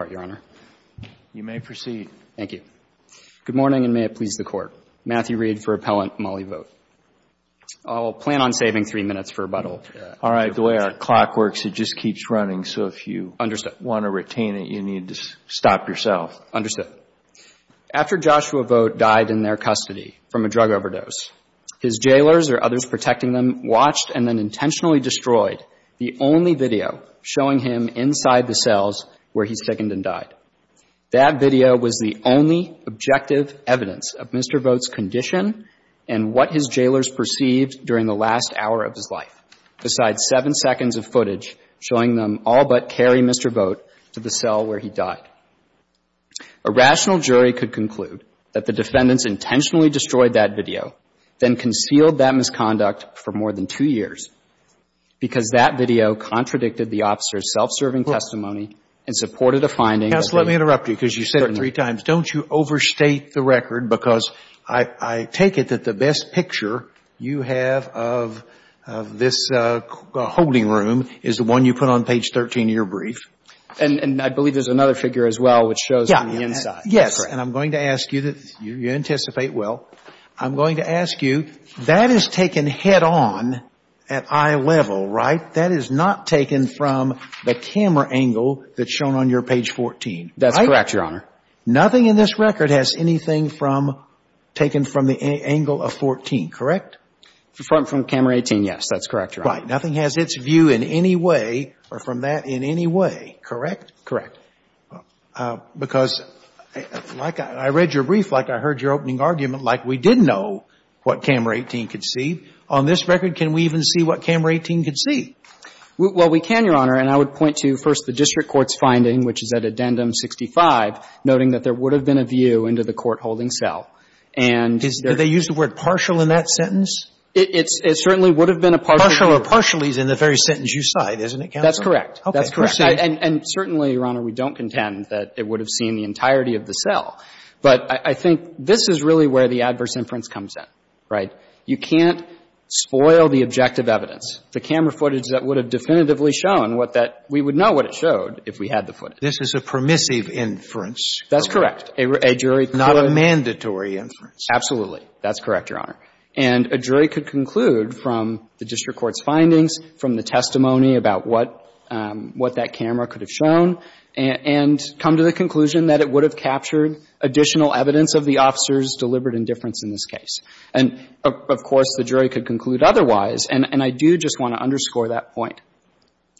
Court, Your Honor. You may proceed. Thank you. Good morning, and may it please the Court. Matthew Reed for Appellant. Molly Vogt. I will plan on saving three minutes for rebuttal. All right. The way our clock works, it just keeps running. So if you want to retain it, you need to stop yourself. Understood. After Joshua Vogt died in their custody from a drug overdose, his jailers or others protecting them watched and then intentionally destroyed the only video showing him inside the cells where he seconded and died. That video was the only objective evidence of Mr. Vogt's condition and what his jailers perceived during the last hour of his life, besides seven seconds of footage showing them all but carry Mr. Vogt to the cell where he died. A rational jury could conclude that the defendants intentionally destroyed that video then concealed that misconduct for more than two years because that video contradicted the officer's self-serving testimony and supported a finding that they had. Counsel, let me interrupt you because you said it three times. Don't you overstate the record because I take it that the best picture you have of this holding room is the one you put on page 13 of your brief. And I believe there's another figure as well which shows from the inside. Yes. And I'm going to ask you that you anticipate well. I'm going to ask you, that is taken head-on at eye level, right? That is not taken from the camera angle that's shown on your page 14, right? That's correct, Your Honor. Nothing in this record has anything taken from the angle of 14, correct? From camera 18, yes. That's correct, Your Honor. Right. Nothing has its view in any way or from that in any way, correct? Correct. Because like I read your brief, like I heard your opening argument, like we did know what camera 18 could see. On this record, can we even see what camera 18 could see? Well, we can, Your Honor. And I would point to, first, the district court's finding, which is at addendum 65, noting that there would have been a view into the court-holding cell. And there's a view. Do they use the word partial in that sentence? It certainly would have been a partial view. Partial or partially is in the very sentence you cite, isn't it, counsel? That's correct. That's correct. And certainly, Your Honor, we don't contend that it would have seen the entirety of the cell. But I think this is really where the adverse inference comes in, right? You can't spoil the objective evidence, the camera footage that would have definitively shown what that we would know what it showed if we had the footage. This is a permissive inference. That's correct. A jury could. Not a mandatory inference. Absolutely. That's correct, Your Honor. And a jury could conclude from the district court's findings, from the testimony about what that camera could have shown, and come to the conclusion that it would have captured additional evidence of the officer's deliberate indifference in this case. And, of course, the jury could conclude otherwise. And I do just want to underscore that point.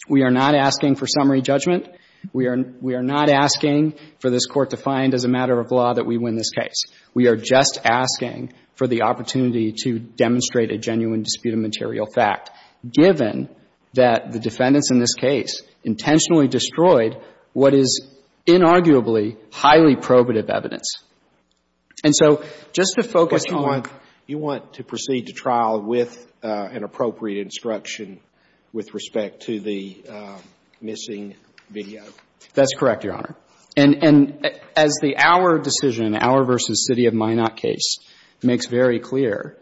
We are not asking for summary judgment. We are not asking for this Court to find as a matter of law that we win this case. We are just asking for the opportunity to demonstrate a genuine dispute of material fact, given that the defendants in this case intentionally destroyed what is inarguably highly probative evidence. And so, just to focus on the ---- But you want to proceed to trial with an appropriate instruction with respect to the missing video. That's correct, Your Honor. And as the Auer decision, Auer v. City of Minot case, makes very clear,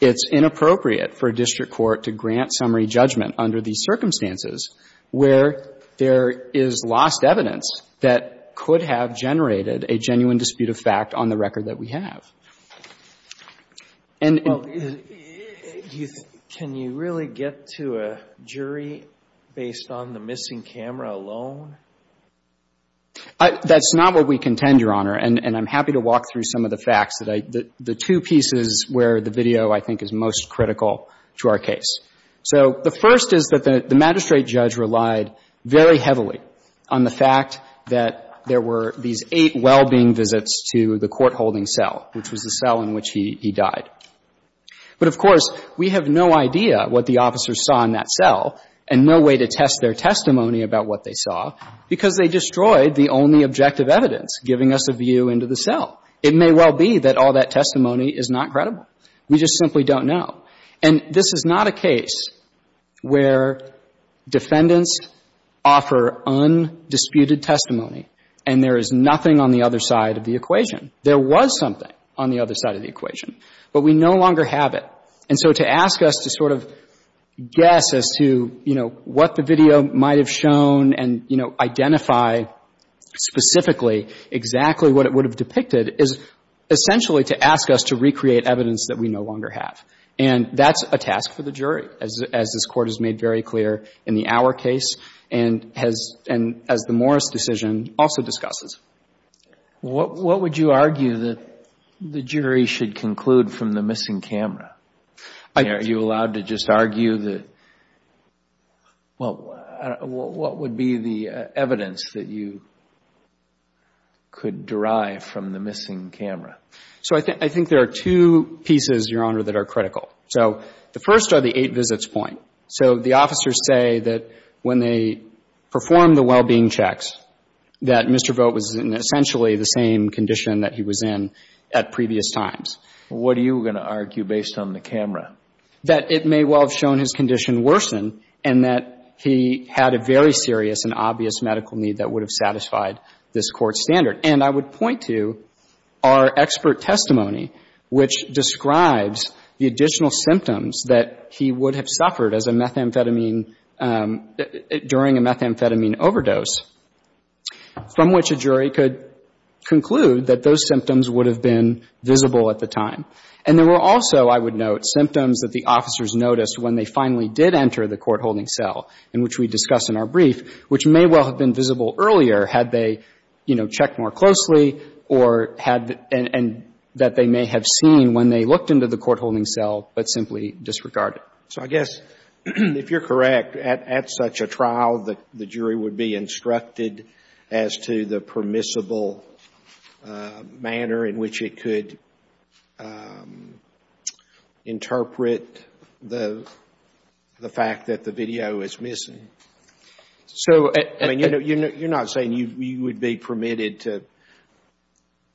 it's inappropriate for a district court to grant summary judgment under these circumstances where there is lost evidence that could have generated a genuine dispute of fact on the record that we have. And ---- Well, can you really get to a jury based on the missing camera alone? That's not what we contend, Your Honor. And I'm happy to walk through some of the facts that I ---- the two pieces where the video, I think, is most critical to our case. So, the first is that the magistrate judge relied very heavily on the fact that there were these eight well-being visits to the court-holding cell, which was the cell in which he died. But, of course, we have no idea what the officers saw in that cell and no way to test their testimony about what they saw because they destroyed the only objective evidence giving us a view into the cell. It may well be that all that testimony is not credible. We just simply don't know. And this is not a case where defendants offer undisputed testimony and there is nothing on the other side of the equation. There was something on the other side of the equation, but we no longer have it. And so to ask us to sort of guess as to, you know, what the video might have shown and, you know, identify specifically exactly what it would have depicted is essentially to ask us to recreate evidence that we no longer have. And that's a task for the jury, as this Court has made very clear in the Auer case and has, and as the Morris decision also discusses. Well, what would you argue that the jury should conclude from the missing camera? Are you allowed to just argue that, well, what would be the evidence that you could derive from the missing camera? So I think there are two pieces, Your Honor, that are critical. So the first are the eight visits point. So the officers say that when they performed the well-being checks, that Mr. Vogt was in essentially the same condition that he was in at previous times. What are you going to argue based on the camera? That it may well have shown his condition worsen and that he had a very serious and obvious medical need that would have satisfied this Court's standard. And I would point to our expert testimony, which describes the additional symptoms that he would have suffered as a methamphetamine, during a methamphetamine overdose, from which a jury could conclude that those symptoms would have been visible at the time. And there were also, I would note, symptoms that the officers noticed when they finally did enter the court-holding cell, in which we discuss in our brief, which may well have been visible earlier had they, you know, checked more closely or had the — and that they may have seen when they looked into the court-holding cell, but simply disregarded. So I guess, if you're correct, at such a trial, the jury would be instructed as to the permissible manner in which it could interpret the fact that the video is missing. So — I mean, you're not saying you would be permitted to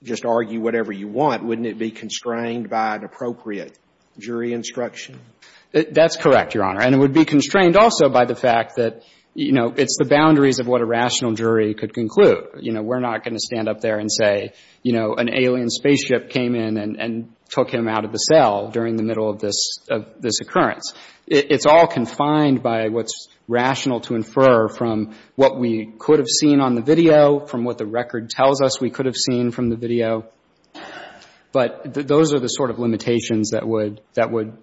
just argue whatever you want. Wouldn't it be constrained by an appropriate jury instruction? That's correct, Your Honor. And it would be constrained also by the fact that, you know, it's the boundaries of what a rational jury could conclude. You know, we're not going to stand up there and say, you know, an alien spaceship came in and took him out of the cell during the middle of this occurrence. It's all confined by what's rational to infer from what we could have seen on the video, from what the record tells us we could have seen from the video. But those are the sort of limitations that would — that would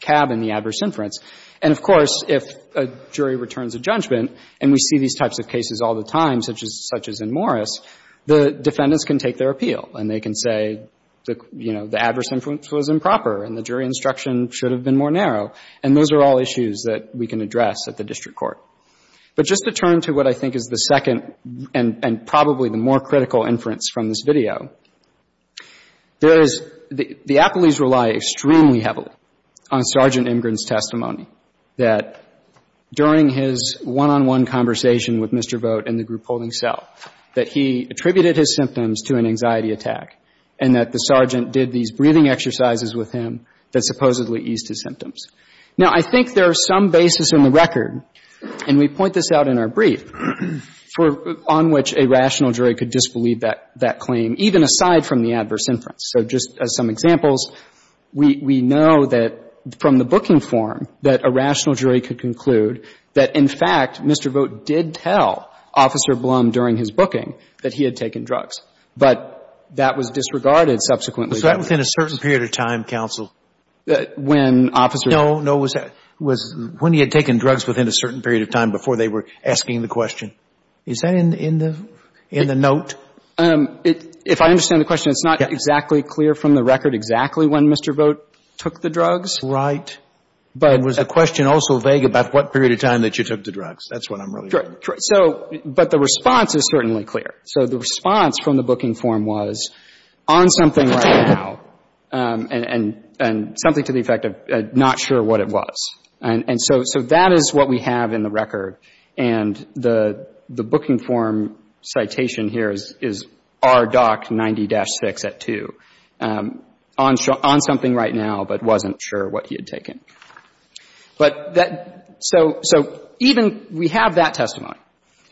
cab in the adverse inference. And, of course, if a jury returns a judgment, and we see these types of cases all the time, such as — such as in Morris, the defendants can take their appeal, and they can say, you know, the adverse inference was improper and the jury instruction should have been more narrow. And those are all issues that we can address at the district court. But just to turn to what I think is the second and probably the more critical inference from this video, there is — the appellees rely extremely heavily on Sergeant Imgrin's testimony, that during his one-on-one conversation with Mr. Vogt in the group holding cell, that he attributed his symptoms to an anxiety attack, and that the sergeant did these breathing exercises with him that supposedly eased his symptoms. Now, I think there is some basis in the record, and we point this out in our brief, on which a rational jury could disbelieve that — that claim, even aside from the adverse inference. So just as some examples, we — we know that from the booking form that a rational jury could conclude that, in fact, Mr. Vogt did tell Officer Blum during his booking that he had taken drugs. But that was disregarded subsequently. Was that within a certain period of time, counsel? When Officer — No, no. Was — when he had taken drugs within a certain period of time before they were asking the question. Is that in the — in the note? If I understand the question, it's not exactly clear from the record exactly when Mr. Vogt took the drugs. Right. But — Was the question also vague about what period of time that you took the drugs? That's what I'm really — But the response is certainly clear. So the response from the booking form was, on something right now, and — and something to the effect of not sure what it was. And — and so — so that is what we have in the record. And the — the booking form citation here is — is R. Dock 90-6 at 2, on something right now, but wasn't sure what he had taken. But that — so — so even — we have that testimony.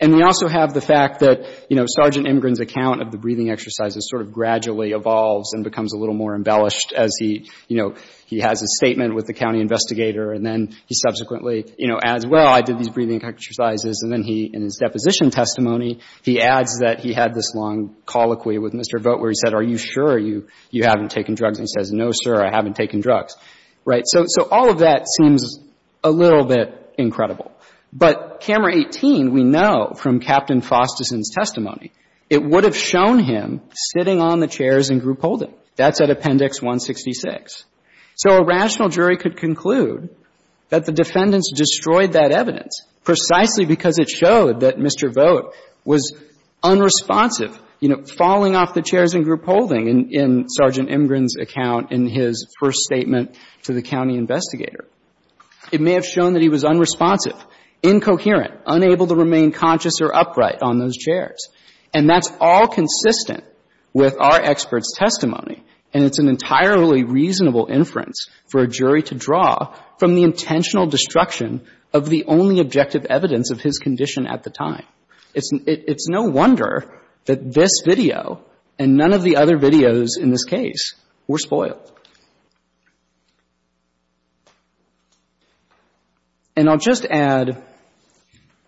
And we also have the fact that, you know, Sergeant Imgrin's account of the breathing exercises sort of gradually evolves and becomes a little more embellished as he, you know, he has a statement with the county investigator, and then he subsequently, you know, adds, well, I did these breathing exercises. And then he, in his deposition testimony, he adds that he had this long colloquy with Mr. Vogt where he said, are you sure you — you haven't taken drugs? And he says, no, sir, I haven't taken drugs. Right? So — so all of that seems a little bit incredible. But Camera 18, we know from Captain Fosterson's testimony, it would have shown him sitting on the chairs in group holding. That's at Appendix 166. So a rational jury could conclude that the defendants destroyed that evidence precisely because it showed that Mr. Vogt was unresponsive, you know, falling off the chairs in group holding in Sergeant Imgrin's account in his first statement to the county investigator. It may have shown that he was unresponsive, incoherent, unable to remain conscious or upright on those chairs. And that's all consistent with our expert's testimony. And it's an entirely reasonable inference for a jury to draw from the intentional destruction of the only objective evidence of his condition at the time. It's no wonder that this video and none of the other videos in this case were spoiled. And I'll just add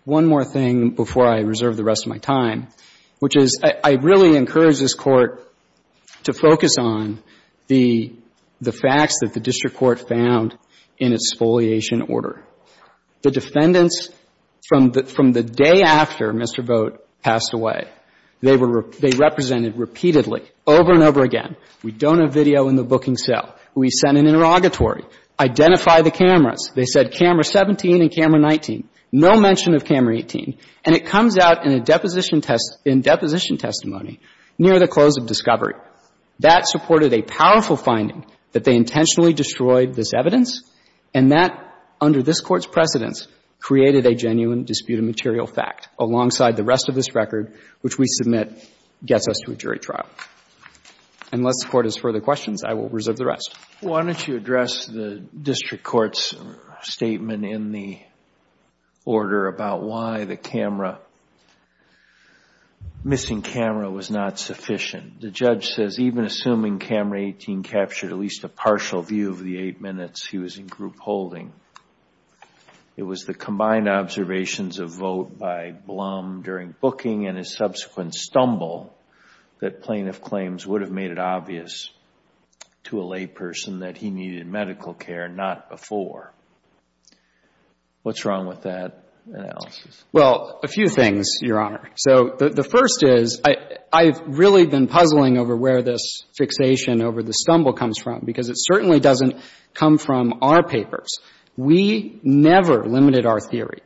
one more thing before I reserve the rest of my time, which is I really encourage this Court to focus on the facts that the district court found in its foliation order. The defendants, from the day after Mr. Vogt passed away, they represented repeatedly, over and over again, we don't have video in the booking cell. We sent an interrogatory. Identify the cameras. They said camera 17 and camera 19. No mention of camera 18. And it comes out in a deposition testimony near the close of discovery. That supported a powerful finding that they intentionally destroyed this evidence and that, under this Court's precedence, created a genuine dispute of material fact, alongside the rest of this record, which we submit gets us to a jury trial. Unless the Court has further questions, I will reserve the rest. Why don't you address the district court's statement in the order about why the camera missing camera was not sufficient. The judge says even assuming camera 18 captured at least a partial view of the 8 minutes, he was in group holding. It was the combined observations of Vogt by Blum during booking and his subsequent stumble that plaintiff claims would have made it obvious to a layperson that he needed medical care, not before. What's wrong with that analysis? Well, a few things, Your Honor. So the first is, I've really been puzzling over where this fixation over the stumble comes from, because it certainly doesn't come from our papers. We never limited our theory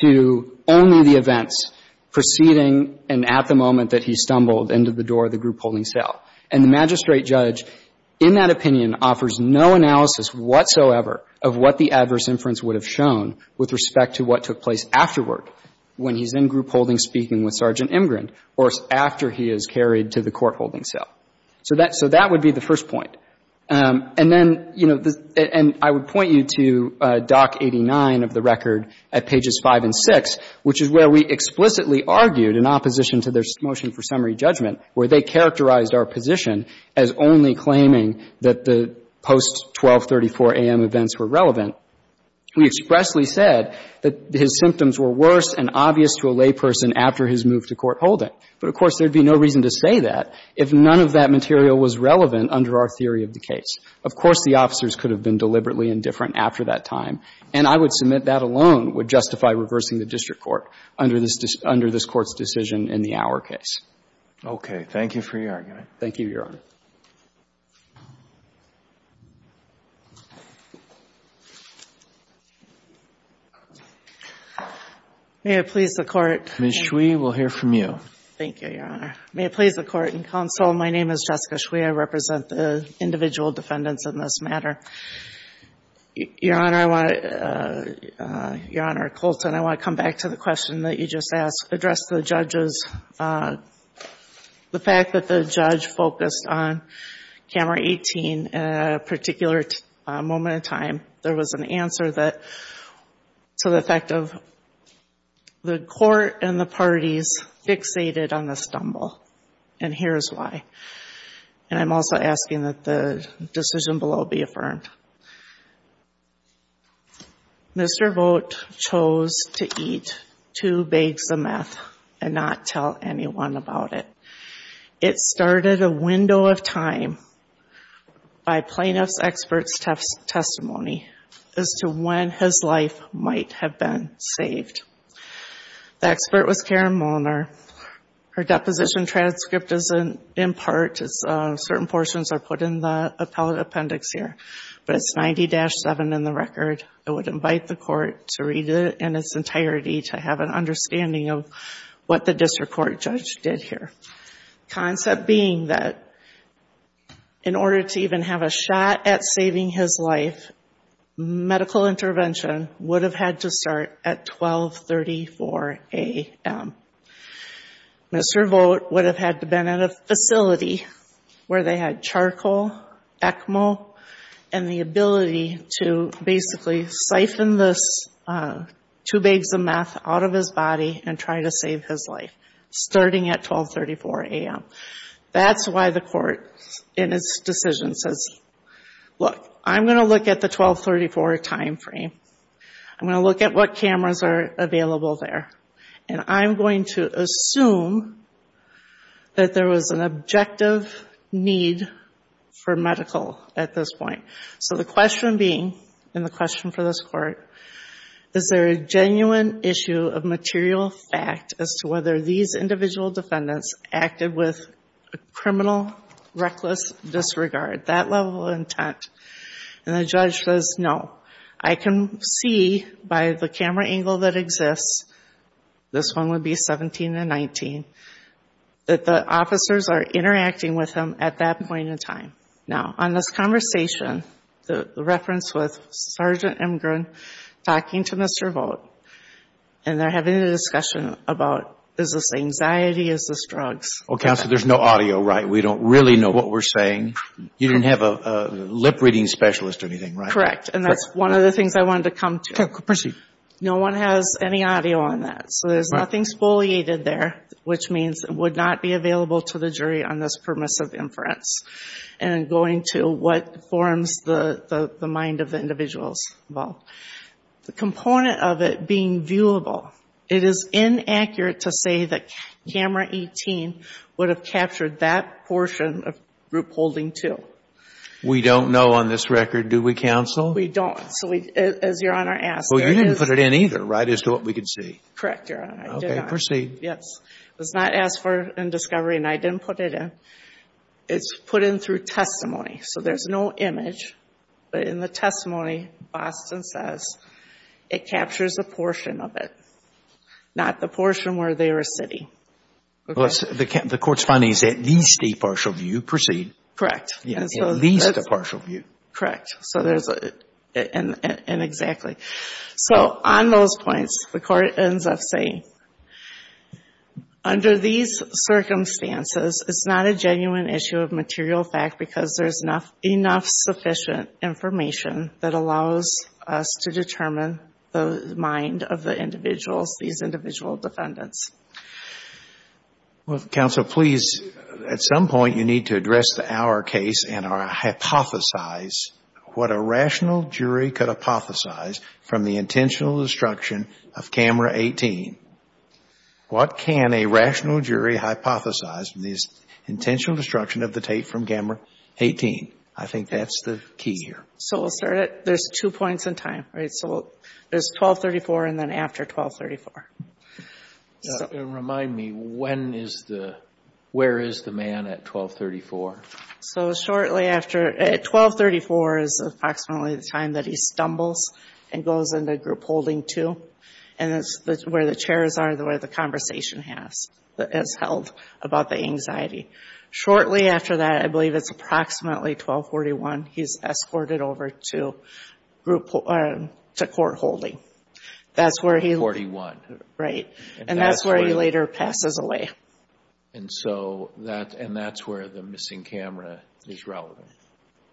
to only the events preceding and at the moment that he stumbled into the door of the group holding cell. And the magistrate judge, in that opinion, offers no analysis whatsoever of what the adverse inference would have shown with respect to what took place afterward when he's in group holding speaking with Sergeant Imgrin or after he is carried to the court holding cell. So that would be the first point. And then, you know, and I would point you to Doc 89 of the record at pages 5 and 6, which is where we explicitly argued in opposition to their motion for summary judgment where they characterized our position as only claiming that the post-1234 A.M. events were relevant. We expressly said that his symptoms were worse and obvious to a layperson after his move to court holding. And that's the first point. But, of course, there would be no reason to say that if none of that material was relevant under our theory of the case. Of course, the officers could have been deliberately indifferent after that time, and I would submit that alone would justify reversing the district court under this court's decision in the Auer case. Okay. Thank you for your argument. Thank you, Your Honor. May it please the Court. Ms. Shui, we'll hear from you. Thank you, Your Honor. May it please the Court and Counsel, my name is Jessica Shui. I represent the individual defendants in this matter. Your Honor, I want to – Your Honor Colton, I want to come back to the question that you just asked. On camera 18, at a particular moment in time, there was an answer to the fact of the court and the parties fixated on the stumble. And here's why. And I'm also asking that the decision below be affirmed. Mr. Vogt chose to eat two bags of meth and not tell anyone about it. It started a window of time by plaintiff's expert's testimony as to when his life might have been saved. The expert was Karen Molner. Her deposition transcript is in part – certain portions are put in the appellate appendix here, but it's 90-7 in the record. I would invite the court to read it in its entirety to have an understanding of what the district court judge did here. Concept being that in order to even have a shot at saving his life, medical intervention would have had to start at 1234 a.m. Mr. Vogt would have had to have been in a facility where they had charcoal, ECMO, and the ability to basically siphon this two bags of meth out of his body and try to save his life, starting at 1234 a.m. That's why the court in its decision says, look, I'm going to look at the 1234 timeframe. I'm going to look at what cameras are available there. And I'm going to assume that there was an objective need for medical at this point. So the question being, and the question for this court, is there a genuine issue of material fact as to whether these individual defendants acted with a criminal, reckless disregard, that level of intent? And the judge says, no. I can see by the camera angle that exists, this one would be 17 and 19, that the officers are interacting with him at that point in time. Now, on this conversation, the reference with Sergeant Imgren talking to Mr. Vogt, and they're having a discussion about, is this anxiety? Is this drugs? Well, Counselor, there's no audio, right? We don't really know what we're saying. You didn't have a lip-reading specialist or anything, right? Correct. And that's one of the things I wanted to come to. Okay. Proceed. No one has any audio on that. So there's nothing exfoliated there, which means it would not be available to the jury on this permissive inference. And going to what forms the mind of the individuals involved. The component of it being viewable, it is inaccurate to say that camera 18 would have captured that portion of group holding two. We don't know on this record, do we, Counsel? We don't. As Your Honor asked. Well, you didn't put it in either, right, as to what we could see. Correct, Your Honor. I did not. Okay. Proceed. Yes. It was not asked for in discovery, and I didn't put it in. It's put in through testimony. So there's no image. But in the testimony, Boston says it captures a portion of it, not the portion where they are sitting. Okay. The court's finding is at least a partial view. Proceed. Correct. At least a partial view. Correct. And exactly. So on those points, the court ends up saying, under these circumstances, it's not a genuine issue of material fact because there's enough sufficient information that allows us to determine the mind of the individuals, these individual defendants. Well, Counsel, please, at some point, you need to address our case and hypothesize what a rational jury could hypothesize from the intentional destruction of camera 18. What can a rational jury hypothesize from the intentional destruction of the tape from camera 18? I think that's the key here. So we'll start at – there's two points in time, right? So there's 1234 and then after 1234. Remind me, when is the – where is the man at 1234? So shortly after – at 1234 is approximately the time that he stumbles and goes into group holding two. And that's where the chairs are, where the conversation has held about the anxiety. Shortly after that, I believe it's approximately 1241, he's escorted over to court holding. That's where he – 1241. Right. And that's where he later passes away. And so that – and that's where the missing camera is relevant?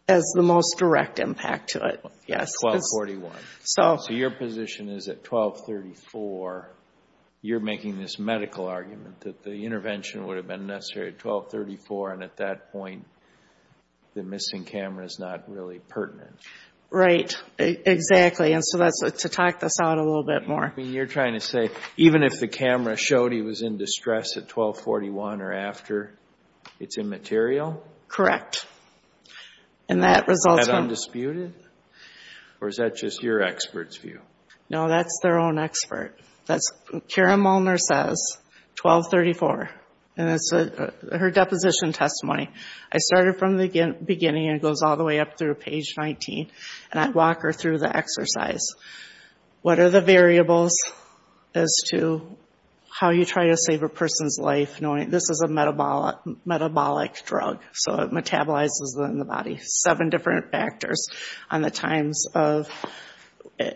Has the most direct impact to it, yes. 1241. So – At 1234, you're making this medical argument that the intervention would have been necessary at 1234 and at that point, the missing camera is not really pertinent. Right. Exactly. And so that's – to talk this out a little bit more. I mean, you're trying to say even if the camera showed he was in distress at 1241 or after, it's immaterial? Correct. And that results from – And undisputed? Or is that just your expert's view? No, that's their own expert. That's – Karen Molnar says, 1234, and that's her deposition testimony. I started from the beginning and it goes all the way up through page 19, and I walk her through the exercise. What are the variables as to how you try to save a person's life knowing this is a metabolic drug? So it metabolizes them in the body. Seven different factors on the times of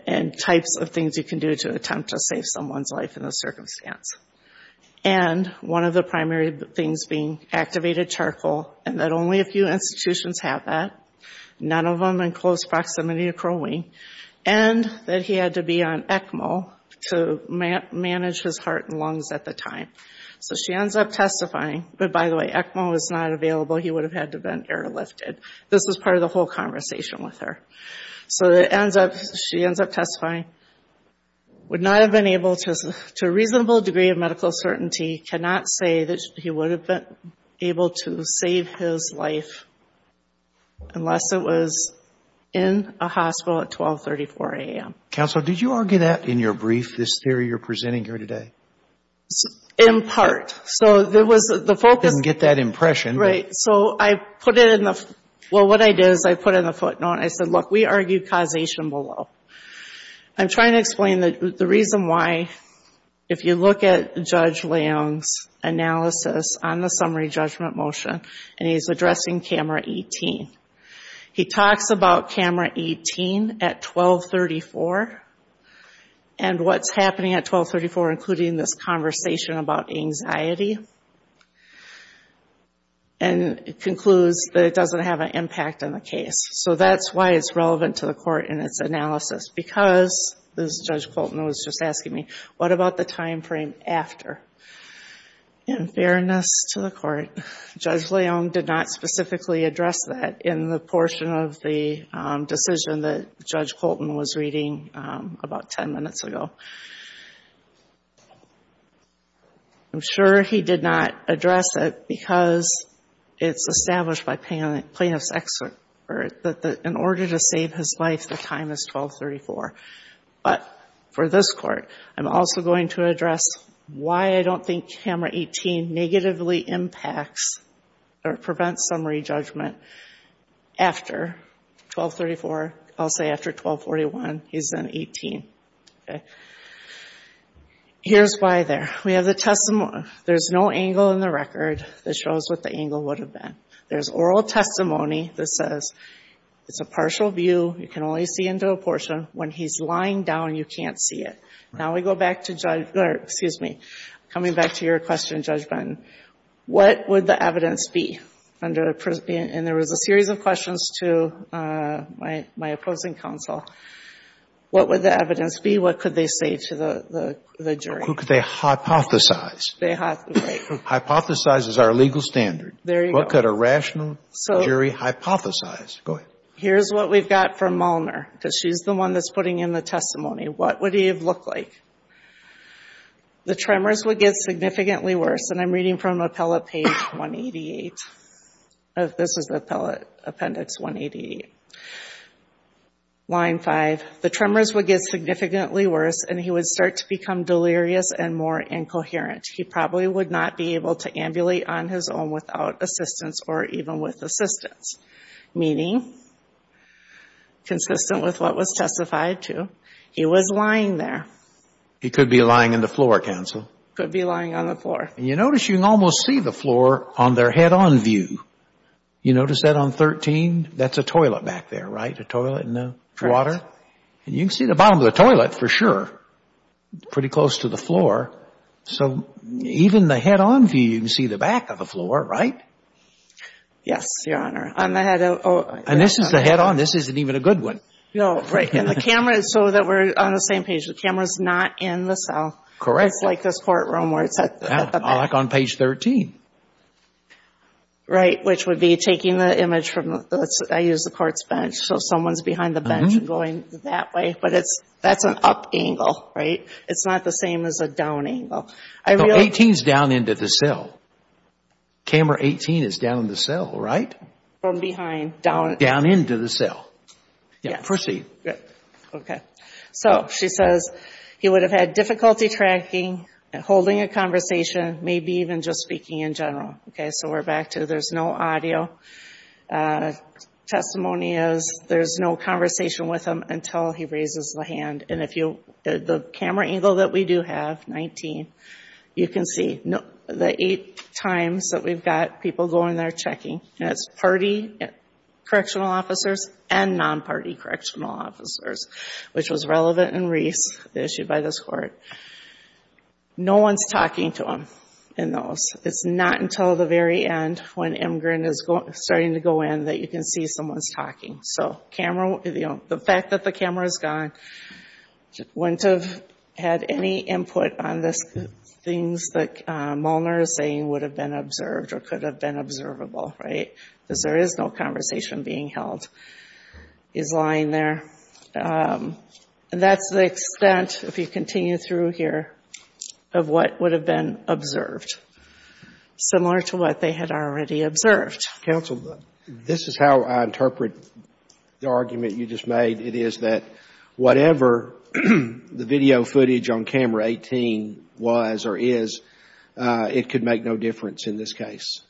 and types of things you can do to attempt to save someone's life in this circumstance. And one of the primary things being activated charcoal, and that only a few institutions have that. None of them in close proximity to Crow Wing. And that he had to be on ECMO to manage his heart and lungs at the time. So she ends up testifying, but by the way, ECMO was not available. He would have had to have been airlifted. This was part of the whole conversation with her. So it ends up – she ends up testifying, would not have been able to – to a reasonable degree of medical certainty, cannot say that he would have been able to save his life unless it was in a hospital at 1234 a.m. Counsel, did you argue that in your brief, this theory you're presenting here today? In part. So there was – the focus – I didn't get that impression. Right. So I put it in the – well, what I did is I put it in the footnote. I said, look, we argue causation below. I'm trying to explain the reason why, if you look at Judge Leung's analysis on the summary judgment motion, and he's addressing camera 18. He talks about camera 18 at 1234, and what's happening at 1234, including this conversation about anxiety, and concludes that it doesn't have an impact on the case. So that's why it's relevant to the court in its analysis, because, as Judge Colton was just asking me, what about the timeframe after? In fairness to the court, Judge Leung did not specifically address that in the portion of the decision that Judge Colton was reading about ten minutes ago. I'm sure he did not address it because it's established by plaintiff's expert that in order to save his life, the time is 1234. But for this court, I'm also going to address why I don't think camera 18 negatively impacts or prevents summary judgment after 1234. I'll say after 1241. He's then 18. Okay. Here's why there. We have the – there's no angle in the record that shows what the angle would have been. There's oral testimony that says it's a partial view. You can only see into a portion. When he's lying down, you can't see it. Now we go back to – excuse me. Coming back to your question, Judge Bratton, what would the evidence be under – and there was a series of questions to my opposing counsel. What would the evidence be? What could they say to the jury? Who could they hypothesize? They – right. Hypothesize is our legal standard. There you go. What could a rational jury hypothesize? Go ahead. Okay. Here's what we've got from Molnar because she's the one that's putting in the testimony. What would he have looked like? The tremors would get significantly worse, and I'm reading from appellate page 188. This is appellate appendix 188. Line five. The tremors would get significantly worse, and he would start to become delirious and more incoherent. He probably would not be able to ambulate on his own without assistance or even with assistance. Meaning, consistent with what was testified to, he was lying there. He could be lying on the floor, counsel. Could be lying on the floor. And you notice you can almost see the floor on their head-on view. You notice that on 13? That's a toilet back there, right? A toilet and a water? Correct. And you can see the bottom of the toilet for sure, pretty close to the floor. So even the head-on view, you can see the back of the floor, right? Yes, Your Honor. And this is the head-on. This isn't even a good one. No. Right. And the camera is so that we're on the same page. The camera is not in the cell. Correct. It's like this courtroom where it's at the back. Like on page 13. Right, which would be taking the image from the courts bench. So someone is behind the bench and going that way. But that's an up angle, right? It's not the same as a down angle. 18 is down into the cell. Camera 18 is down in the cell, right? From behind, down. Down into the cell. Yeah. Proceed. Okay. So she says he would have had difficulty tracking, holding a conversation, maybe even just speaking in general. Okay, so we're back to there's no audio. Testimony is there's no conversation with him until he raises the hand. And the camera angle that we do have, 19, you can see the eight times that we've got people going there checking. And it's party correctional officers and non-party correctional officers, which was relevant in Reese, the issue by this court. No one is talking to him in those. It's not until the very end when Imgren is starting to go in that you can see someone is talking. So the fact that the camera is gone wouldn't have had any input on the things that Molnar is saying would have been observed or could have been observable, right? Because there is no conversation being held. He's lying there. And that's the extent, if you continue through here, of what would have been observed, similar to what they had already observed. Counsel, this is how I interpret the argument you just made. It is that whatever the video footage on camera 18 was or is, it could make no difference in this case.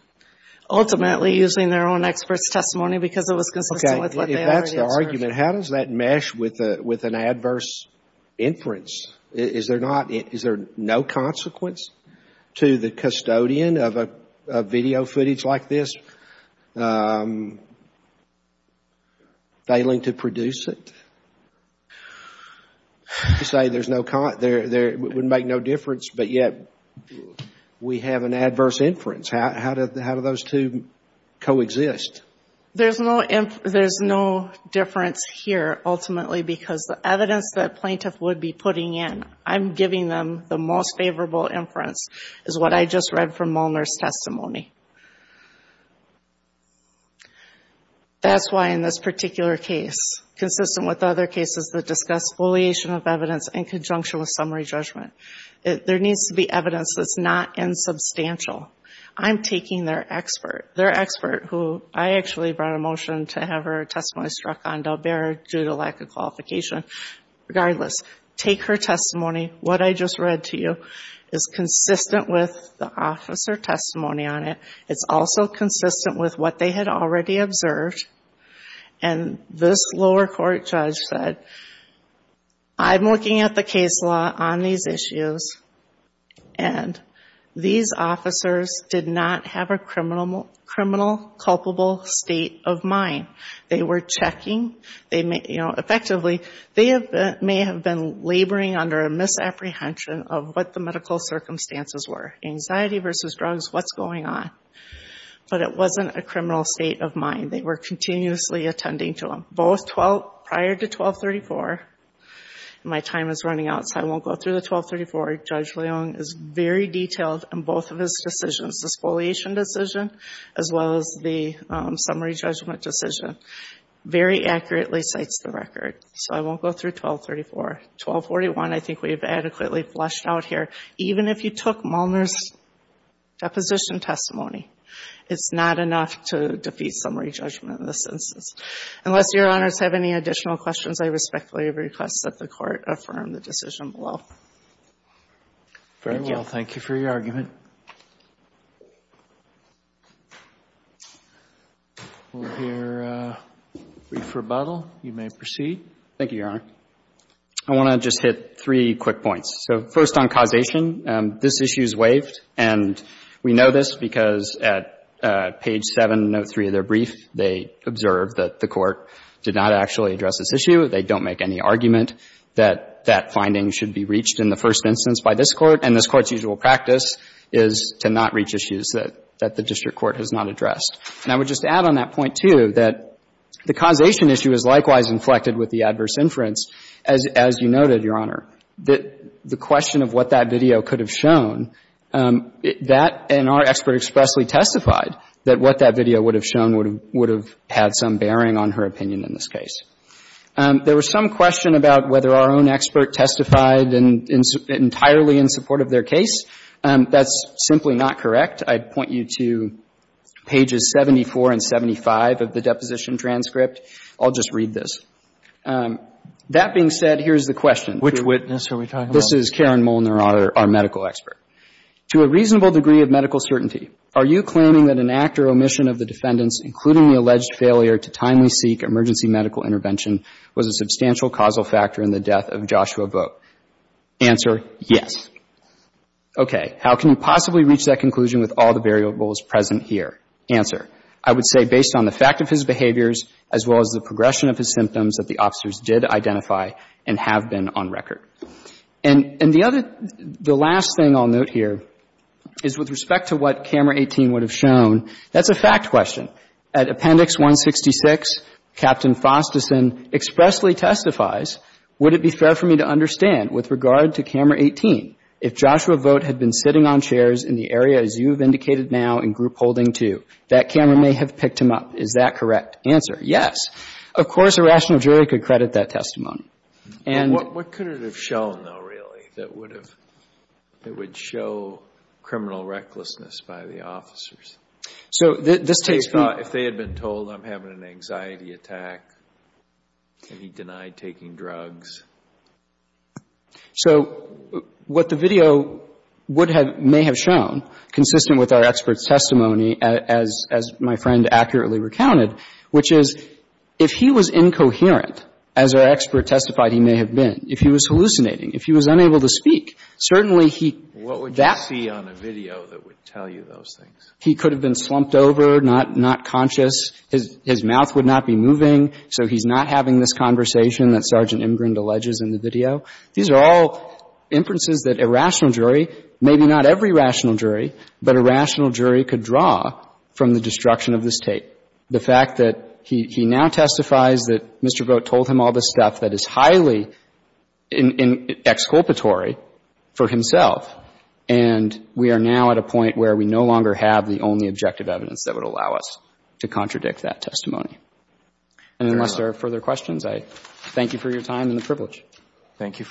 Ultimately, using their own expert's testimony because it was consistent with what they already observed. Okay, if that's the argument, how does that mesh with an adverse inference? Is there not, is there no consequence to the custodian of a video footage like this failing to produce it? You say there's no, it would make no difference, but yet we have an adverse inference. How do those two coexist? There's no difference here, ultimately, because the evidence that plaintiff would be putting in, I'm giving them the most favorable inference is what I just read from Molnar's testimony. That's why in this particular case, consistent with other cases that discuss foliation of evidence in conjunction with summary judgment, there needs to be evidence that's not insubstantial. I'm taking their expert, their expert who I actually brought a motion to have her testimony struck on due to lack of qualification. Regardless, take her testimony. What I just read to you is consistent with the officer testimony on it. It's also consistent with what they had already observed. And this lower court judge said, I'm looking at the case law on these issues, and these officers did not have a criminal culpable state of mind. They were checking. Effectively, they may have been laboring under a misapprehension of what the medical circumstances were. Anxiety versus drugs, what's going on? But it wasn't a criminal state of mind. They were continuously attending to them, both prior to 1234. My time is running out, so I won't go through the 1234. Judge Leung is very detailed in both of his decisions, the foliation decision, as well as the summary judgment decision, very accurately cites the record. So I won't go through 1234. 1241, I think we've adequately fleshed out here. Even if you took Molnar's deposition testimony, it's not enough to defeat summary judgment in this instance. Unless Your Honors have any additional questions, I respectfully request that the Court affirm the decision below. Thank you. Very well. Thank you for your argument. We'll hear a brief rebuttal. You may proceed. Thank you, Your Honor. I want to just hit three quick points. So first on causation, this issue is waived. And we know this because at page 703 of their brief, they observed that the Court did not actually address this issue. They don't make any argument that that finding should be reached in the first instance by this Court. And this Court's usual practice is to not reach issues that the district court has not addressed. And I would just add on that point, too, that the causation issue is likewise inflected with the adverse inference. As you noted, Your Honor, the question of what that video could have shown, that and our expert expressly testified that what that video would have shown would have had some bearing on her opinion in this case. There was some question about whether our own expert testified entirely in support of their case. That's simply not correct. I'd point you to pages 74 and 75 of the deposition transcript. I'll just read this. That being said, here's the question. Which witness are we talking about? This is Karen Molnar, our medical expert. To a reasonable degree of medical certainty, are you claiming that an act or omission of the defendant's, including the alleged failure to timely seek emergency medical intervention, was a substantial causal factor in the death of Joshua Vogt? Answer, yes. Okay. How can you possibly reach that conclusion with all the variables present here? Answer. I would say based on the fact of his behaviors as well as the progression of his symptoms that the officers did identify and have been on record. And the other, the last thing I'll note here is with respect to what camera 18 would have shown, that's a fact question. At appendix 166, Captain Fosterson expressly testifies, would it be fair for me to understand with regard to camera 18 if Joshua Vogt had been sitting on chairs in the area as you have indicated now in group holding two? That camera may have picked him up. Is that correct answer? Yes. Of course, a rational jury could credit that testimony. And what could it have shown, though, really, that would have, that would show criminal recklessness by the officers? So this takes from If they had been told I'm having an anxiety attack and he denied taking drugs. So what the video would have, may have shown, consistent with our expert's testimony as my friend accurately recounted, which is if he was incoherent, as our expert testified he may have been, if he was hallucinating, if he was unable to speak, certainly he What would you see on a video that would tell you those things? He could have been slumped over, not conscious. His mouth would not be moving. So he's not having this conversation that Sergeant Imgrind alleges in the video. These are all inferences that a rational jury, maybe not every rational jury, but a rational jury could draw from the destruction of the State. The fact that he now testifies that Mr. Vogt told him all this stuff that is highly exculpatory for himself, and we are now at a point where we no longer have the only objective evidence that would allow us to contradict that testimony. And unless there are further questions, I thank you for your time and the privilege. Thank you.